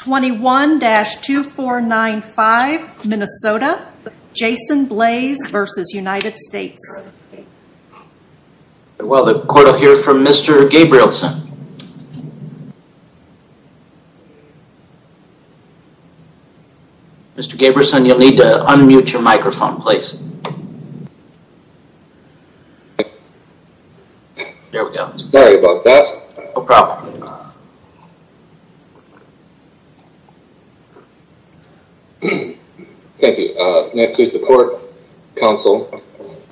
21-2495 Minnesota Jason Blais versus United States. Well the court will hear from Mr. Gabrielson. Mr. Gabrielson you'll need to unmute your microphone please. There we go. Sorry about that. No problem. Thank you. May it please the court, counsel,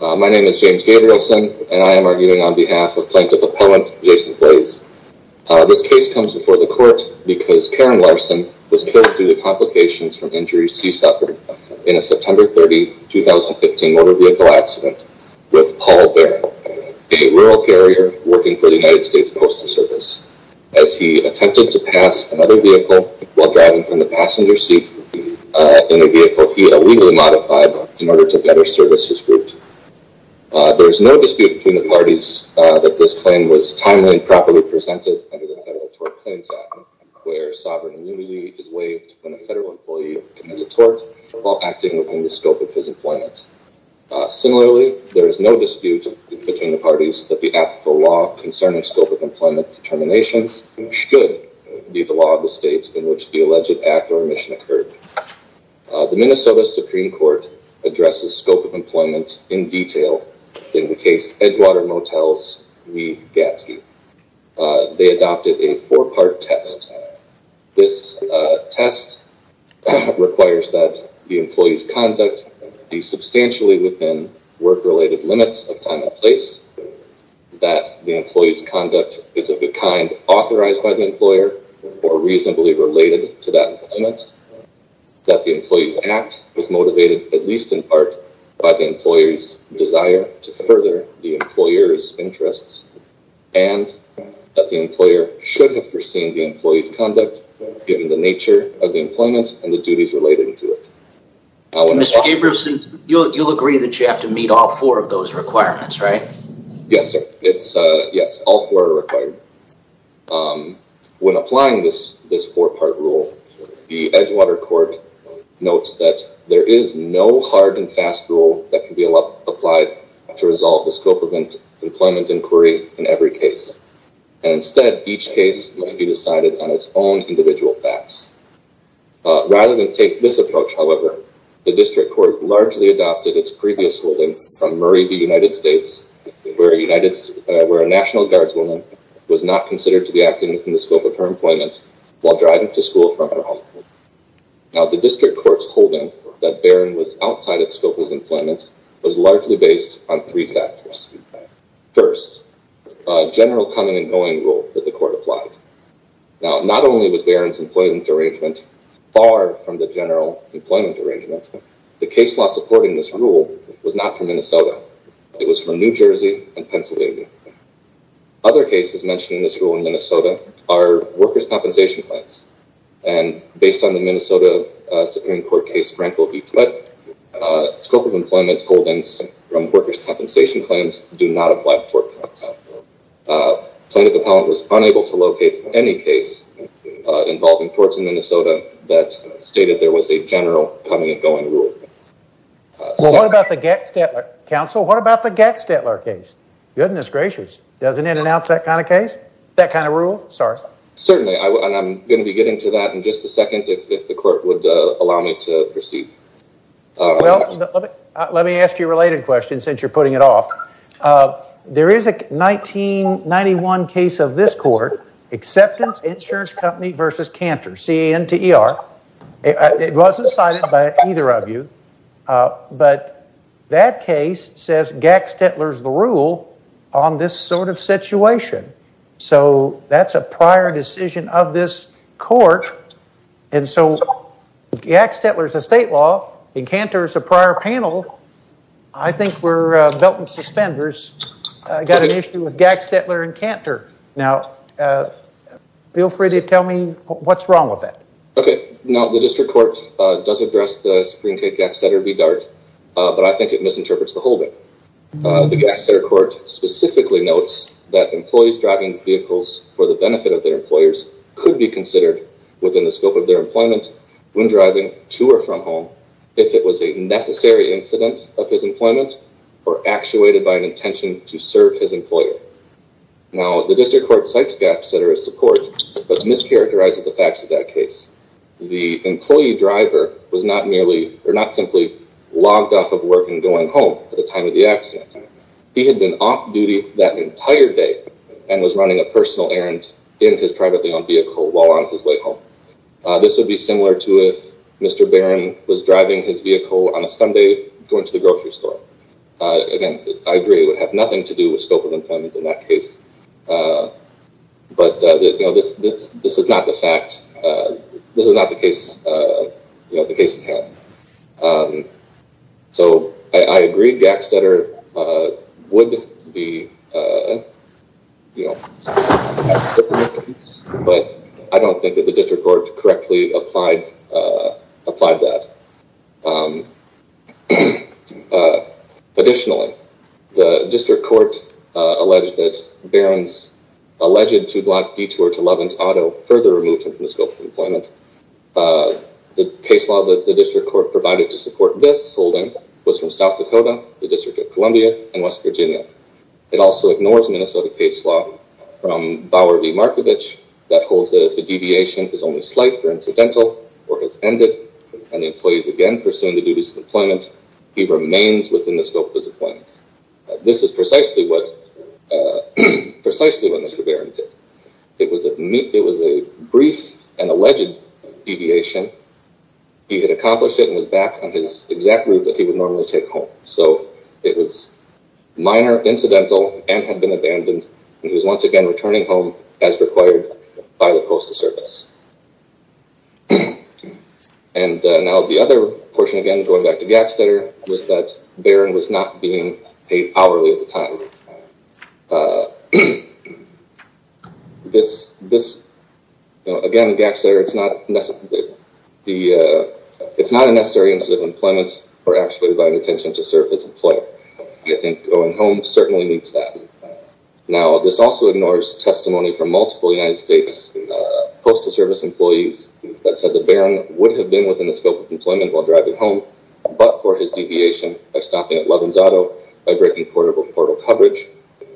my name is James Gabrielson and I am arguing on behalf of Plaintiff Appellant Jason Blais. This case comes before the court because Karen Larson was killed through the 2015 motor vehicle accident with Paul Barron, a rural carrier working for the United States Postal Service. As he attempted to pass another vehicle while driving from the passenger seat in a vehicle he illegally modified in order to better service his group. There is no dispute between the parties that this claim was timely and properly presented under the federal tort claims act where sovereign immunity is waived when a federal employee commits a tort while acting within the scope of his employment. Similarly there is no dispute between the parties that the applicable law concerning scope of employment determinations should be the law of the state in which the alleged act or omission occurred. The Minnesota Supreme Court addresses scope of employment in detail in the case Edgewater Motels v. Gadsky. They adopted a four-part test. This test requires that the employee's conduct be substantially within work-related limits of time and place, that the employee's conduct is of the kind authorized by the employer or reasonably related to that employment, that the employee's act was motivated at least in part by the employer's desire to further the employer's interests, and that the employer should have pursued the employee's conduct given the nature of the employment and the duties related to it. Mr. Gabrielson, you'll agree that you have to meet all four of those requirements, right? Yes, sir. Yes, all four are required. When applying this this four-part rule, the Edgewater court notes that there is no hard and fast rule that can be applied to resolve the scope of employment inquiry in every case. Instead, each case must be decided on its own individual facts. Rather than take this approach, however, the district court largely adopted its previous holding from Murray v. United States, where a National Guardswoman was not considered to be acting within the scope of her employment while driving to school from her home. Now, the district court's holding that Barron was outside of Scopel's employment was largely based on three factors. First, a general coming-and-going rule that the court applied. Now, not only was Barron's employment arrangement far from the general employment arrangement, the case law supporting this rule was not from Minnesota. It was from New Jersey and Pennsylvania. Other cases mentioning this rule in Minnesota are workers' compensation claims, and based on the Minnesota Supreme Court case Frankl v. Barron, scope of employment holdings from workers' compensation claims do not apply to tort courts. Plaintiff Appellant was unable to locate any case involving torts in Minnesota that stated there was a general coming-and-going rule. Well, what about the Getz-Stetler? Counsel, what about the Getz-Stetler case? Goodness gracious, doesn't it announce that kind of case? That kind of rule? Sorry. Certainly, and I'm going to be getting to that in just a second if the court would allow me to proceed. Well, let me ask you a related question since you're putting it off. There is a 1991 case of this court, Acceptance Insurance Company v. Cantor, C-A-N-T-E-R. It wasn't cited by either of you, but that case says Getz-Stetler's the rule on this sort of situation, so that's a prior decision of this court, and so Getz-Stetler's a state law, and Cantor's a prior panel. I think we're belt and suspenders. I got an issue with Getz-Stetler and Cantor. Now, feel free to tell me what's wrong with that. Okay, now the District Court does address the Supreme Court Getz-Stetler v. Dart, but I think it misinterprets the holding. The Getz-Stetler Court specifically notes that employees driving vehicles for the benefit of their employers could be considered within the scope of their employment when driving to or from home if it was a necessary incident of his employment or actuated by an intention to serve his employer. Now, the District Court cites Getz-Stetler as support, but mischaracterizes the facts of that case. The employee driver was not merely or not simply logged off of work and going home at the time of the accident. He had been off duty that entire day and was running a personal errand in his privately owned vehicle while on his way home. This would be similar to if Mr. Barron was driving his vehicle on a Sunday going to the grocery store. Again, I agree it would have nothing to do with scope of employment in that case, but this is not the fact. This is not the case, you know, the case in hand. So, I agree Getz-Stetler would be, you know, but I don't think that the District Court correctly applied that. Additionally, the District Court alleged that Barron's alleged two-block detour to Lovins Auto further removed him from the scope of employment. The case law that the District Court provided to support this holding was from South Dakota, the District of Columbia, and West Virginia. It also ignores Minnesota case law from Bauer v. Markovich that holds that if the deviation is only slight or incidental or has ended and the employee is again pursuing the duties of employment, he remains within the scope of his appointment. This is precisely what Mr. Barron did. It was a brief and alleged deviation. He had accomplished it and was back on his exact route that he would normally take home. So, it was minor, incidental, and had been abandoned. He was once again returning home as required by the Coastal Service. And now the other portion, again going back to Getz-Stetler, was that Barron was not being paid hourly at the time. Again, Getz-Stetler, it's not a necessary incident of employment or actuated by an intention to serve as an employer. I think going home certainly meets that. Now, this also ignores testimony from multiple United States Coastal Service employees that said that Barron would have been within the scope of employment while driving home, but for his deviation by stopping at Lovins Auto, by breaking portable portal coverage,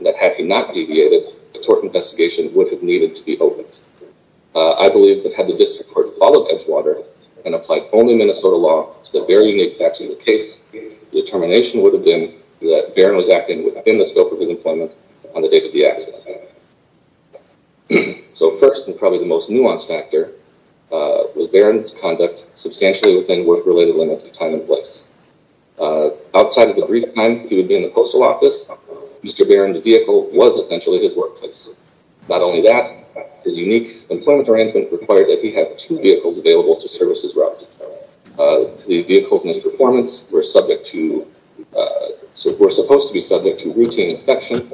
that had he not deviated, a tort investigation would have needed to be opened. I believe that had the district court followed Edgewater and applied only Minnesota law to the very unique facts of the case, the determination would have been that Barron was acting within the scope of his employment on the date of the accident. So, first and probably the most nuanced factor was Barron's conduct substantially within work-related limits of time and place. Outside of the brief time he would be in the Coastal Office, Mr. Barron, the unique employment arrangement required that he have two vehicles available to service his route. The vehicles in his performance were subject to, were supposed to be subject to routine inspection,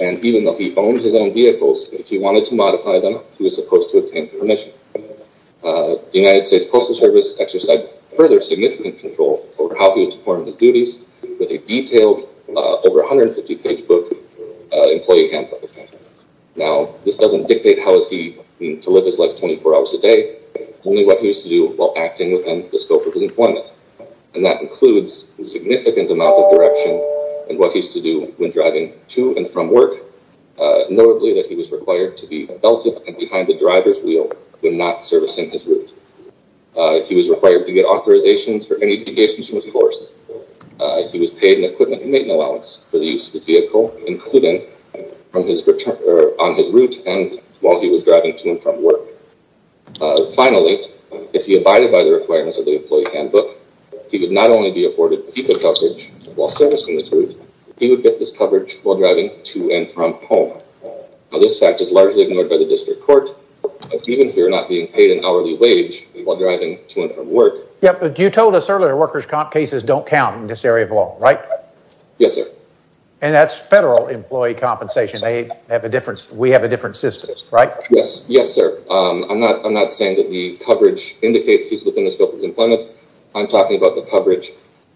and even though he owned his own vehicles, if he wanted to modify them, he was supposed to obtain permission. The United States Coastal Service exercised further significant control over how he performed his duties with a detailed, over 150-page book, employee handbook. Now, this doesn't dictate how is he to live his life 24 hours a day, only what he used to do while acting within the scope of his employment, and that includes a significant amount of direction and what he used to do when driving to and from work, notably that he was required to be belted and behind the driver's wheel when not servicing his route. He was required to get authorizations for any deviations from his course. He was paid an equipment and on his route and while he was driving to and from work. Finally, if he abided by the requirements of the employee handbook, he would not only be afforded vehicle coverage while servicing his route, he would get this coverage while driving to and from home. Now, this fact is largely ignored by the district court, even here not being paid an hourly wage while driving to and from work. Yep, but you told us earlier workers' comp cases don't count in this compensation. They have a difference. We have a different system, right? Yes, yes, sir. I'm not saying that the coverage indicates he's within the scope of employment. I'm talking about the coverage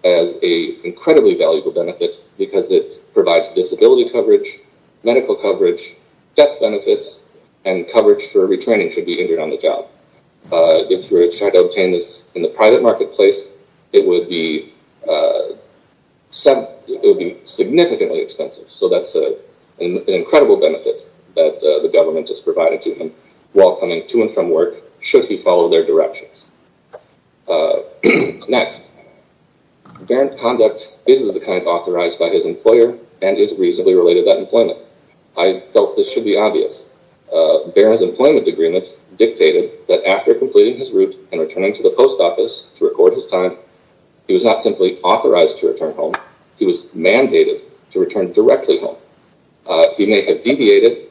as a incredibly valuable benefit because it provides disability coverage, medical coverage, death benefits, and coverage for retraining should be injured on the job. If you were to try to obtain this in the private marketplace, it would be significantly expensive, so that's an incredible benefit that the government has provided to him while coming to and from work should he follow their directions. Next, barren conduct is of the kind authorized by his employer and is reasonably related to that employment. I felt this should be obvious. Barron's employment agreement dictated that after completing his route and returning to the post office to record his time, he was not simply authorized to return home. He was mandated to return directly home. He may have deviated,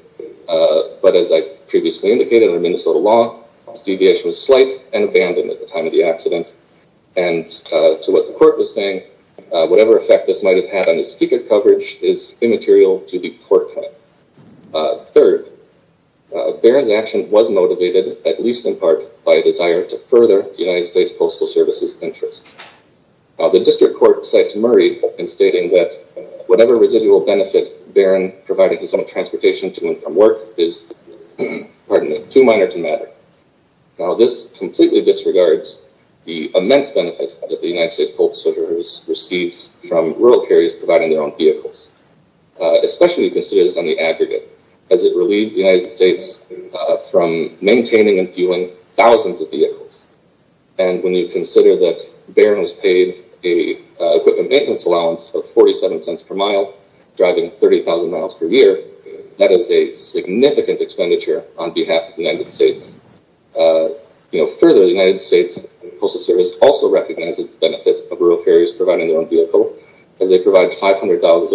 but as I previously indicated under Minnesota law, his deviation was slight and abandoned at the time of the accident, and to what the court was saying, whatever effect this might have had on his ticket coverage is immaterial to the court. Third, Barron's action was motivated, at least in part, by a desire to further the United States Postal Service's interest. Now, the district court cites Murray in stating that whatever residual benefit Barron provided his own transportation to and from work is too minor to matter. Now, this completely disregards the immense benefit that the United States Postal Service receives from rural carriers providing their own vehicles, especially considering this on the aggregate, as it relieves the United States from maintaining and fueling thousands of vehicles. When you consider that Barron was paid a equipment maintenance allowance of 47 cents per mile, driving 30,000 miles per year, that is a significant expenditure on behalf of the United States. You know, further, the United States Postal Service also recognizes the benefit of rural carriers providing their own vehicle, as they provide $500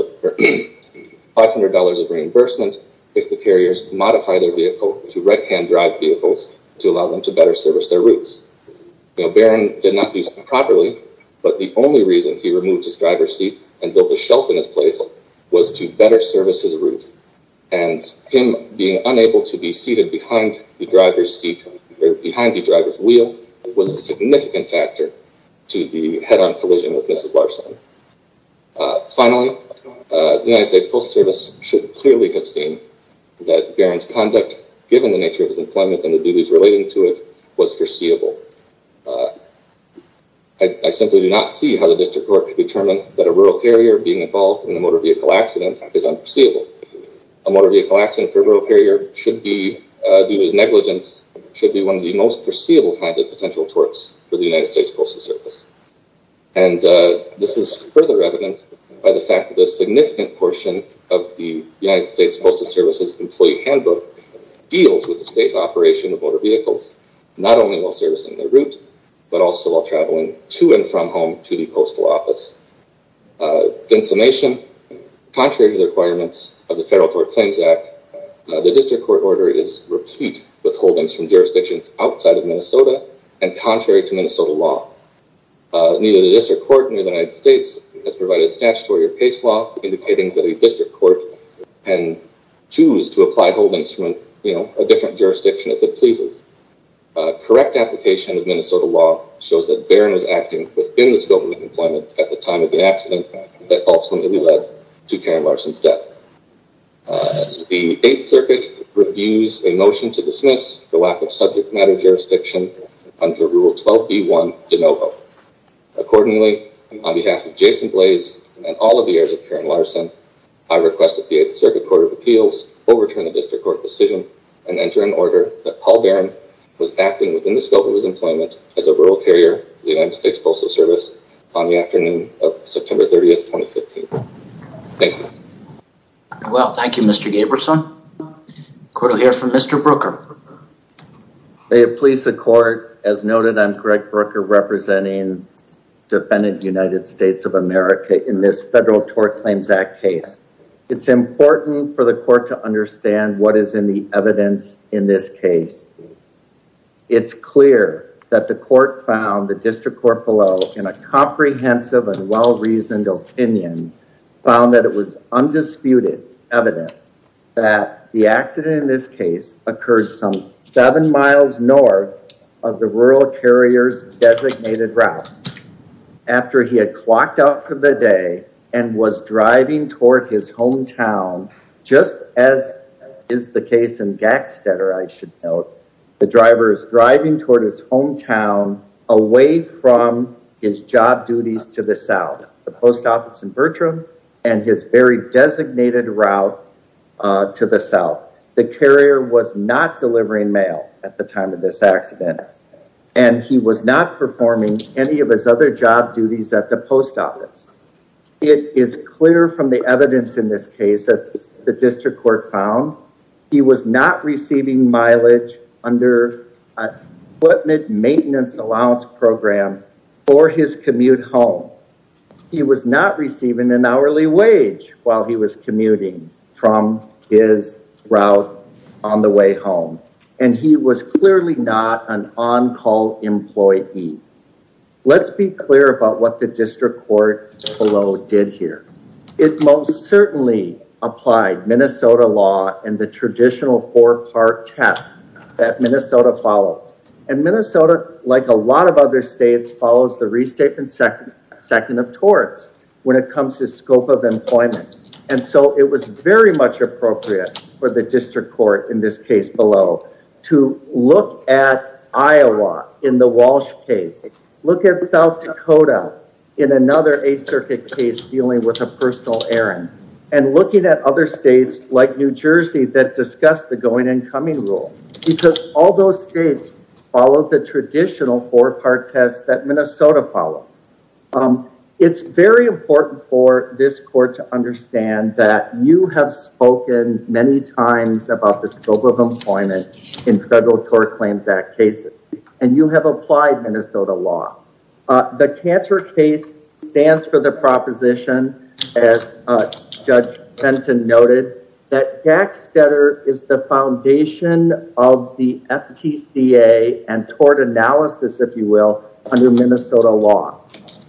of reimbursement if the carriers modify their vehicle to right-hand drive vehicles to allow them to better service their routes. Now, Barron did not do so properly, but the only reason he removed his driver's seat and built a shelf in his place was to better service his route, and him being unable to be seated behind the driver's seat, or behind the driver's wheel, was a significant factor to the head-on collision with Mrs. Larson. Finally, the United States Postal Service should clearly have seen that Barron's conduct, given the nature of his employment and the nature of his career, was foreseeable. I simply do not see how the District Court can determine that a rural carrier being involved in a motor vehicle accident is unforeseeable. A motor vehicle accident for a rural carrier should be, due to its negligence, should be one of the most foreseeable kinds of potential torts for the United States Postal Service. And this is further evident by the fact that a significant portion of the United States Postal Service's employee handbook deals with the safe operation of motor vehicles, not only while servicing their route, but also while traveling to and from home to the Postal Office. In summation, contrary to the requirements of the Federal Tort Claims Act, the District Court order is repeat withholdings from jurisdictions outside of Minnesota and contrary to Minnesota law. Neither the District Court nor the United States has provided statutory or case law indicating that a District Court can choose to apply holdings from, you know, a different jurisdiction if it pleases. A correct application of Minnesota law shows that Barron is acting within the scope of his employment at the time of the accident that ultimately led to Karen Larson's death. The Eighth Circuit reviews a motion to dismiss the lack of subject matter jurisdiction under Rule 12b1 de novo. Accordingly, on behalf of Jason Blaze and all of the heirs of Karen Larson, I request that the Eighth Circuit Court of Appeals overturn the District Court decision and enter an order that Paul Barron was acting within the scope of his employment as a rural carrier of the United States Postal Service on the afternoon of September 30th, 2015. Thank you. Well, thank you, Mr. Gaberson. The court will hear from Mr. Brooker. May it please the court, as noted, I'm Greg Brooker representing defendant United States of America in this Federal Tort Claims Act case. It's important for the court to understand what is in the evidence in this case. It's clear that the court found, the District Court below, in a comprehensive and well-reasoned opinion, found that it was undisputed evidence that the accident in this case occurred some seven miles north of the rural carrier's designated route. After he had clocked out for the day and was driving toward his hometown, just as is the case in Gackstetter, I should note, the driver is driving toward his hometown away from his job duties to the south. The post office in Bertram and his very designated route to the south. The carrier was not delivering mail at the time of this accident and he was not performing any of his other job duties at the post office. It is clear from the evidence in this case that the District Court found he was not receiving mileage under an equipment maintenance allowance program for his commute home. He was not receiving an hourly wage while he was commuting from his route on the way home and he was clearly not an on-call employee. Let's be clear about what the District Court below did here. It most certainly applied Minnesota law and the traditional four-part test that Minnesota follows. And Minnesota, like a lot of other states, follows the restatement second of torts when it comes to scope of employment. And so it was very much appropriate for the District Court, in this case below, to look at Iowa in the Walsh case, look at South Dakota in another Eighth Circuit case dealing with a personal errand, and looking at other states like New Jersey that discussed the going-and-coming rule. Because all those states followed the traditional four-part test that Minnesota followed. It's very important for this court to understand that you have spoken many times about the scope of employment in Federal Tort Claims Act cases and you have applied Minnesota law. The Cantor case stands for the proposition, as Judge Benton noted, that Gackstetter is the foundation of the FTCA and tort analysis, if you will, under Minnesota law.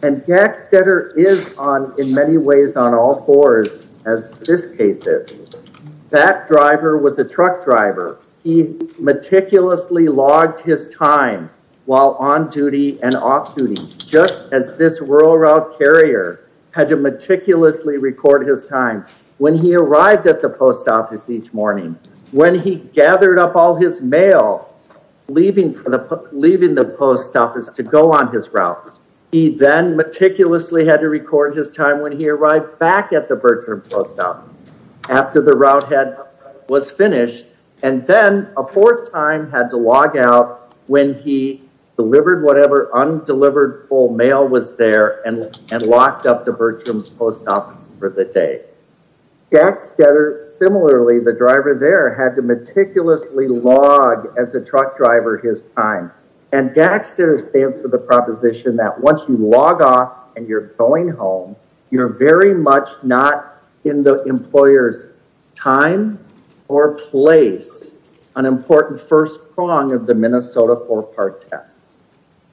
And Gackstetter is on, in many ways, on all fours as this case is. That driver was a truck driver. He meticulously logged his time while on duty and off duty, just as this rural route carrier had to meticulously record his time when he arrived at the post office each morning, when he gathered up all his mail leaving the post office to go on his route. He then meticulously had to record his time when he arrived back at the Bertram post office, after the route head was finished, and then a fourth time had to log out when he delivered whatever undelivered full mail was there and locked up the Bertram post office for the day. Gackstetter, similarly, the driver there had to meticulously log as a truck driver his time. And Gackstetter stands for the proposition that once you log off and you're going home, you're very much not in the employer's time or place, an important first prong of the Minnesota four part test.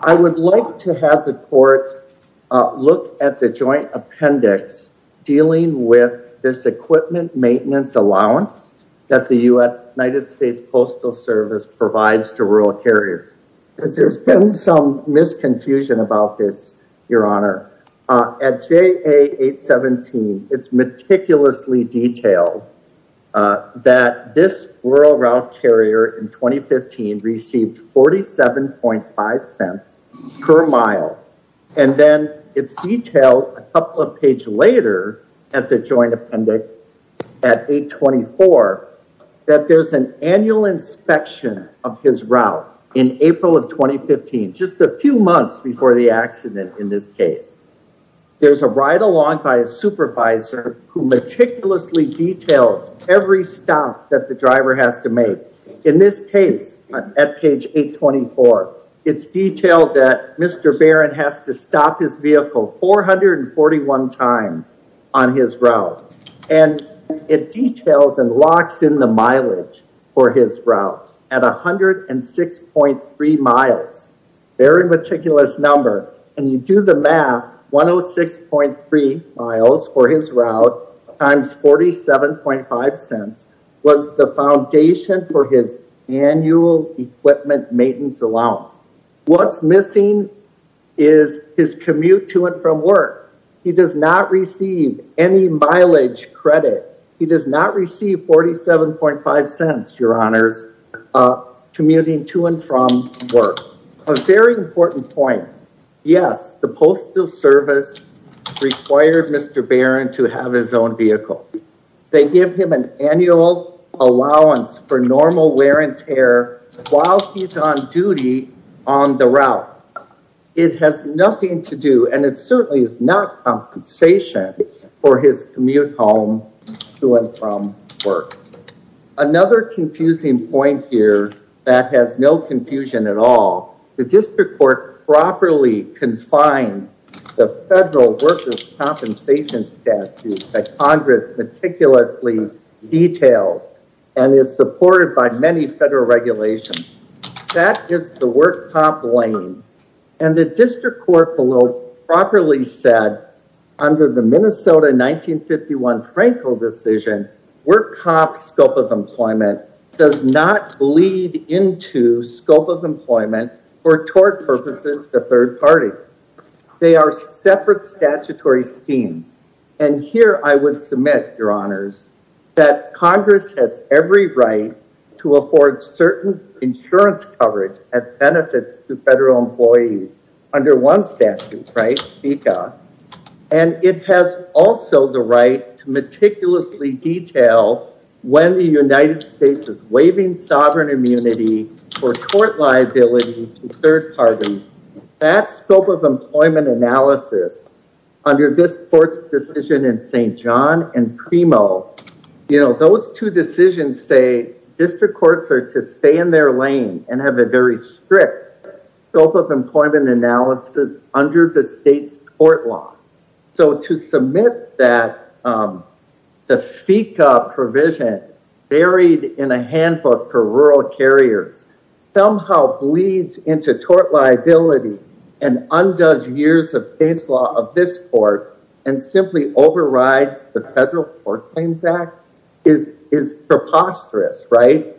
I would like to have the court look at the joint appendix dealing with this equipment maintenance allowance that the United States Postal Service provides to rural carriers. There's been some misconfusion about this, Your Honor. At JA 817, it's meticulously detailed that this rural route carrier in 2015 received 47.5 cents per mile. And then it's detailed a couple of pages later at the joint appendix at 824 that there's an annual inspection of his route in April of 2015, just a few months before the accident in this case. There's a ride-along by a supervisor who meticulously details every stop that the driver has to make. In this case, at page 824, it's detailed that Mr. Barron has to stop his vehicle 441 times on his route. And it details and locks in the mileage for his route at 106.3 miles, very meticulous number. And you do the math, 106.3 miles for his route times 47.5 cents was the foundation for his annual equipment maintenance allowance. What's commute to and from work. He does not receive any mileage credit. He does not receive 47.5 cents, Your Honors, commuting to and from work. A very important point. Yes, the Postal Service required Mr. Barron to have his own vehicle. They give him an annual allowance for normal wear and tear while he's on duty on the road. That's what he has to do. And it certainly is not compensation for his commute home to and from work. Another confusing point here that has no confusion at all, the District Court properly confined the federal workers compensation statute that Congress meticulously details and is supported by many federal regulations. That is the work top lane. And the District Court below properly said under the Minnesota 1951 Frankel decision, work top scope of employment does not bleed into scope of employment for tort purposes to third parties. They are separate statutory schemes. And here I would submit, Your Honors, that Congress has every right to afford certain insurance coverage as a federal statute, right? And it has also the right to meticulously detail when the United States is waiving sovereign immunity for tort liability to third parties. That scope of employment analysis under this Court's decision in St. John and Primo, you know, those two decisions say District Courts are to stay in their lane and have a very strict scope of employment analysis under the state's tort law. So to submit that the FECA provision buried in a handbook for rural carriers somehow bleeds into tort liability and undoes years of case law of this Court and simply overrides the Federal Court Claims Act is preposterous, right?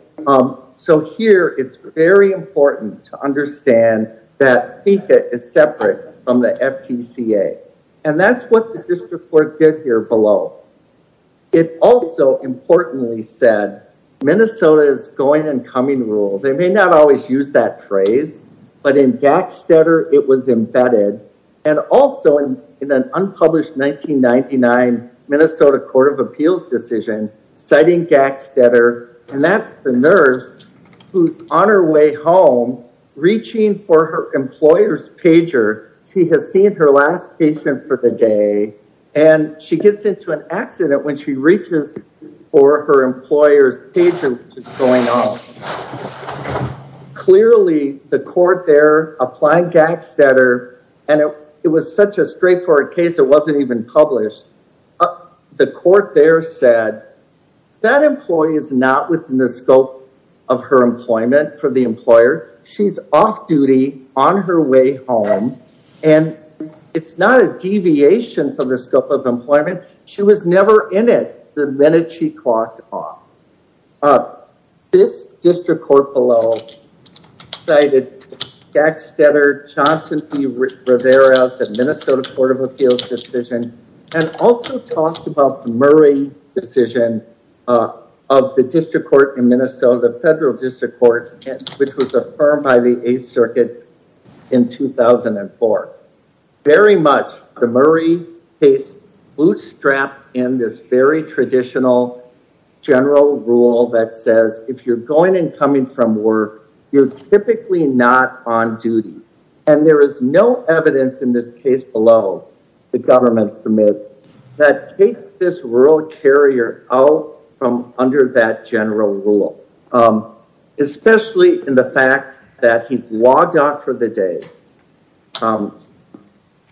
So here it's very important to understand that FECA is separate from the FTCA. And that's what the District Court did here below. It also importantly said Minnesota's going and coming rule, they may not always use that phrase, but in Gackstetter, it was embedded. And also in an unpublished 1999 Minnesota Court of who's on her way home, reaching for her employer's pager. She has seen her last patient for the day. And she gets into an accident when she reaches for her employer's pager, which is going on. Clearly, the court there applying Gackstetter, and it was such a straightforward case, it wasn't even published. The court there said, that employee is not within the scope of her employment for the employer. She's off duty on her way home. And it's not a deviation from the scope of employment. She was never in it the minute she clocked off. This District Court below cited Gackstetter, Johnson v. Rivera, the Minnesota Court of Appeals decision, and also talked about the Murray decision of the District Court in Minnesota, the Federal District Court, which was affirmed by the Eighth Circuit in 2004. Very much the Murray case bootstraps in this very traditional general rule that says if you're going and coming from work, you're typically not on duty. And there is no evidence in this case below, the government permits, that takes this rural carrier out from under that general rule. Especially in the fact that he's logged off for the day.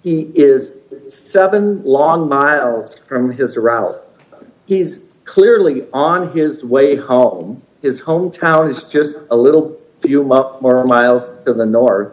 He is seven long miles from his route. He's clearly on his way home. His hometown is just a little few more miles to the north.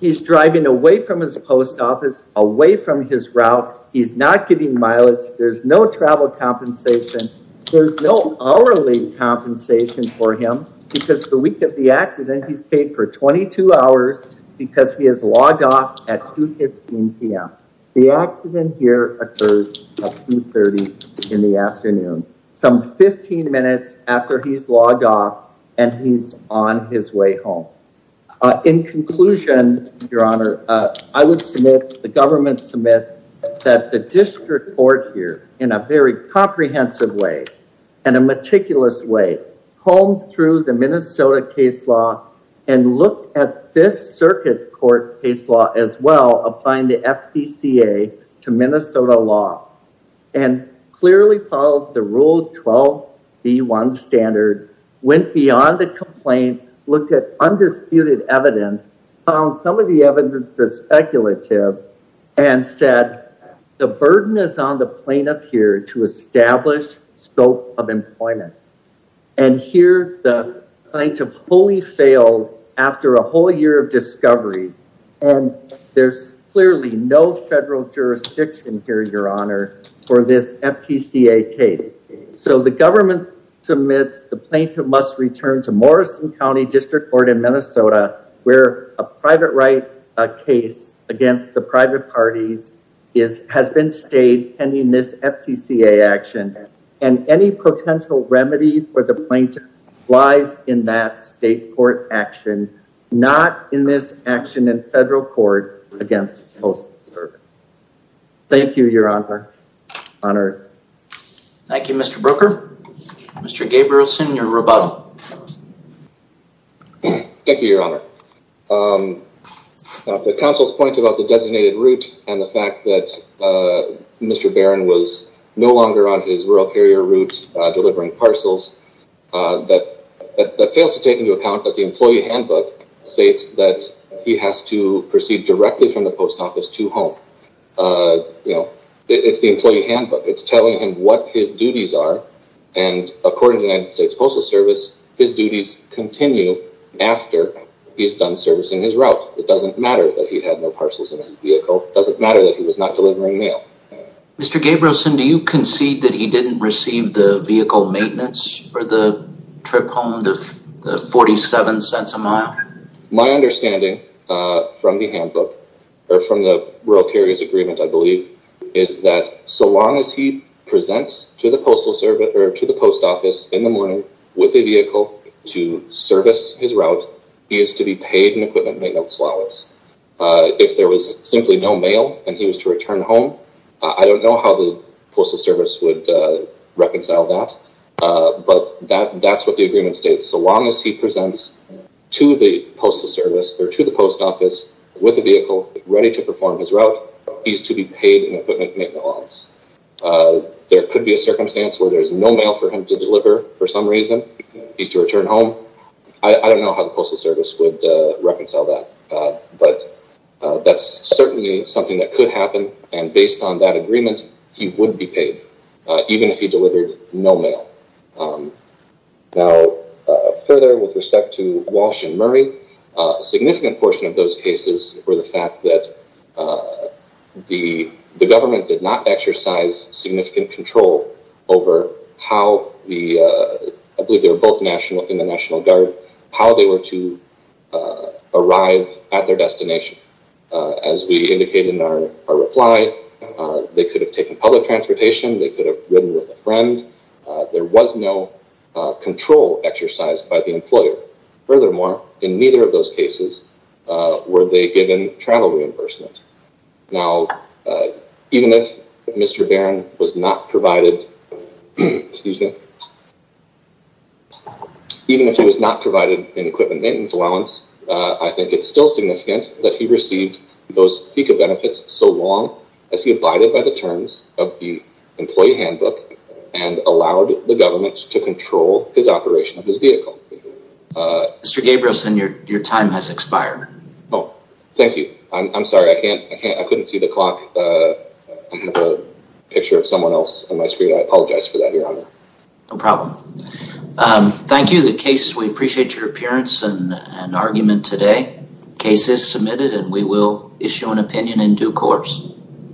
He's driving away from his post office, away from his route. He's not getting mileage. There's no travel compensation. There's no hourly compensation for him because the week of the accident, he's paid for 22 hours because he has logged off at 2.15pm. The accident here occurs at 2.30 in the afternoon, some 15 minutes after he's on his way home. In conclusion, Your Honor, I would submit, the government submits that the District Court here in a very comprehensive way, and a meticulous way, combed through the Minnesota case law and looked at this circuit court case law as well, applying the FPCA to Minnesota law, and clearly followed the Rule 12b1 standard, went beyond the complaint, looked at undisputed evidence, found some of the evidence is speculative, and said the burden is on the plaintiff here to establish scope of employment. And here the plaintiff wholly failed after a whole year of discovery, and there's clearly no federal jurisdiction here, Your Honor, for this FPCA case. So the government submits the plaintiff must return to Morrison County District Court in Minnesota, where a private right case against the private parties has been stayed pending this FPCA action, and any potential remedy for the plaintiff lies in that state court action, not in this action in federal court against postal service. Thank you, Your Honor. Thank you, Mr. Broeker. Mr. Gabrielson, your rebuttal. Thank you, Your Honor. The council's point about the designated route and the fact that Mr. Barron was no longer on his rural carrier route delivering parcels, that fails to take into account that the employee handbook states that he has to proceed directly from the post office to home. You know, it's the employee handbook. It's telling him what his duties are, and according to the United States Postal Service, his duties continue after he's done servicing his route. It doesn't matter that he had no parcels in his vehicle. It doesn't matter that he was not delivering mail. Mr. Gabrielson, do you receive the vehicle maintenance for the trip home, the 47 cents a mile? My understanding from the handbook, or from the rural carrier's agreement, I believe, is that so long as he presents to the postal service or to the post office in the morning with a vehicle to service his route, he is to be paid an equipment maintenance allowance. If there was simply no mail and he was to return home, I don't know how the Postal Service would reconcile that, but that's what the agreement states. So long as he presents to the postal service or to the post office with a vehicle ready to perform his route, he's to be paid an equipment maintenance allowance. There could be a circumstance where there's no mail for him to deliver for some reason. He's to return home. I don't know how the Postal Service would reconcile that, but that's certainly something that could happen, and based on that agreement, he would be paid, even if he delivered no mail. Now, further with respect to Walsh and Murray, a significant portion of those cases were the fact that the government did not exercise significant control over how the, I believe they were both in the National Guard, how they were to They could have taken public transportation. They could have ridden with a friend. There was no control exercised by the employer. Furthermore, in neither of those cases were they given travel reimbursement. Now, even if Mr. Barron was not provided, even if he was not provided an equipment maintenance allowance, I think it's still as he abided by the terms of the employee handbook and allowed the government to control his operation of his vehicle. Mr. Gabrielson, your time has expired. Oh, thank you. I'm sorry. I couldn't see the clock. I have a picture of someone else on my screen. I apologize for that, Your Honor. No problem. Thank you. The case, we appreciate your appearance and argument today. Case is submitted, and we will issue an opinion in due course.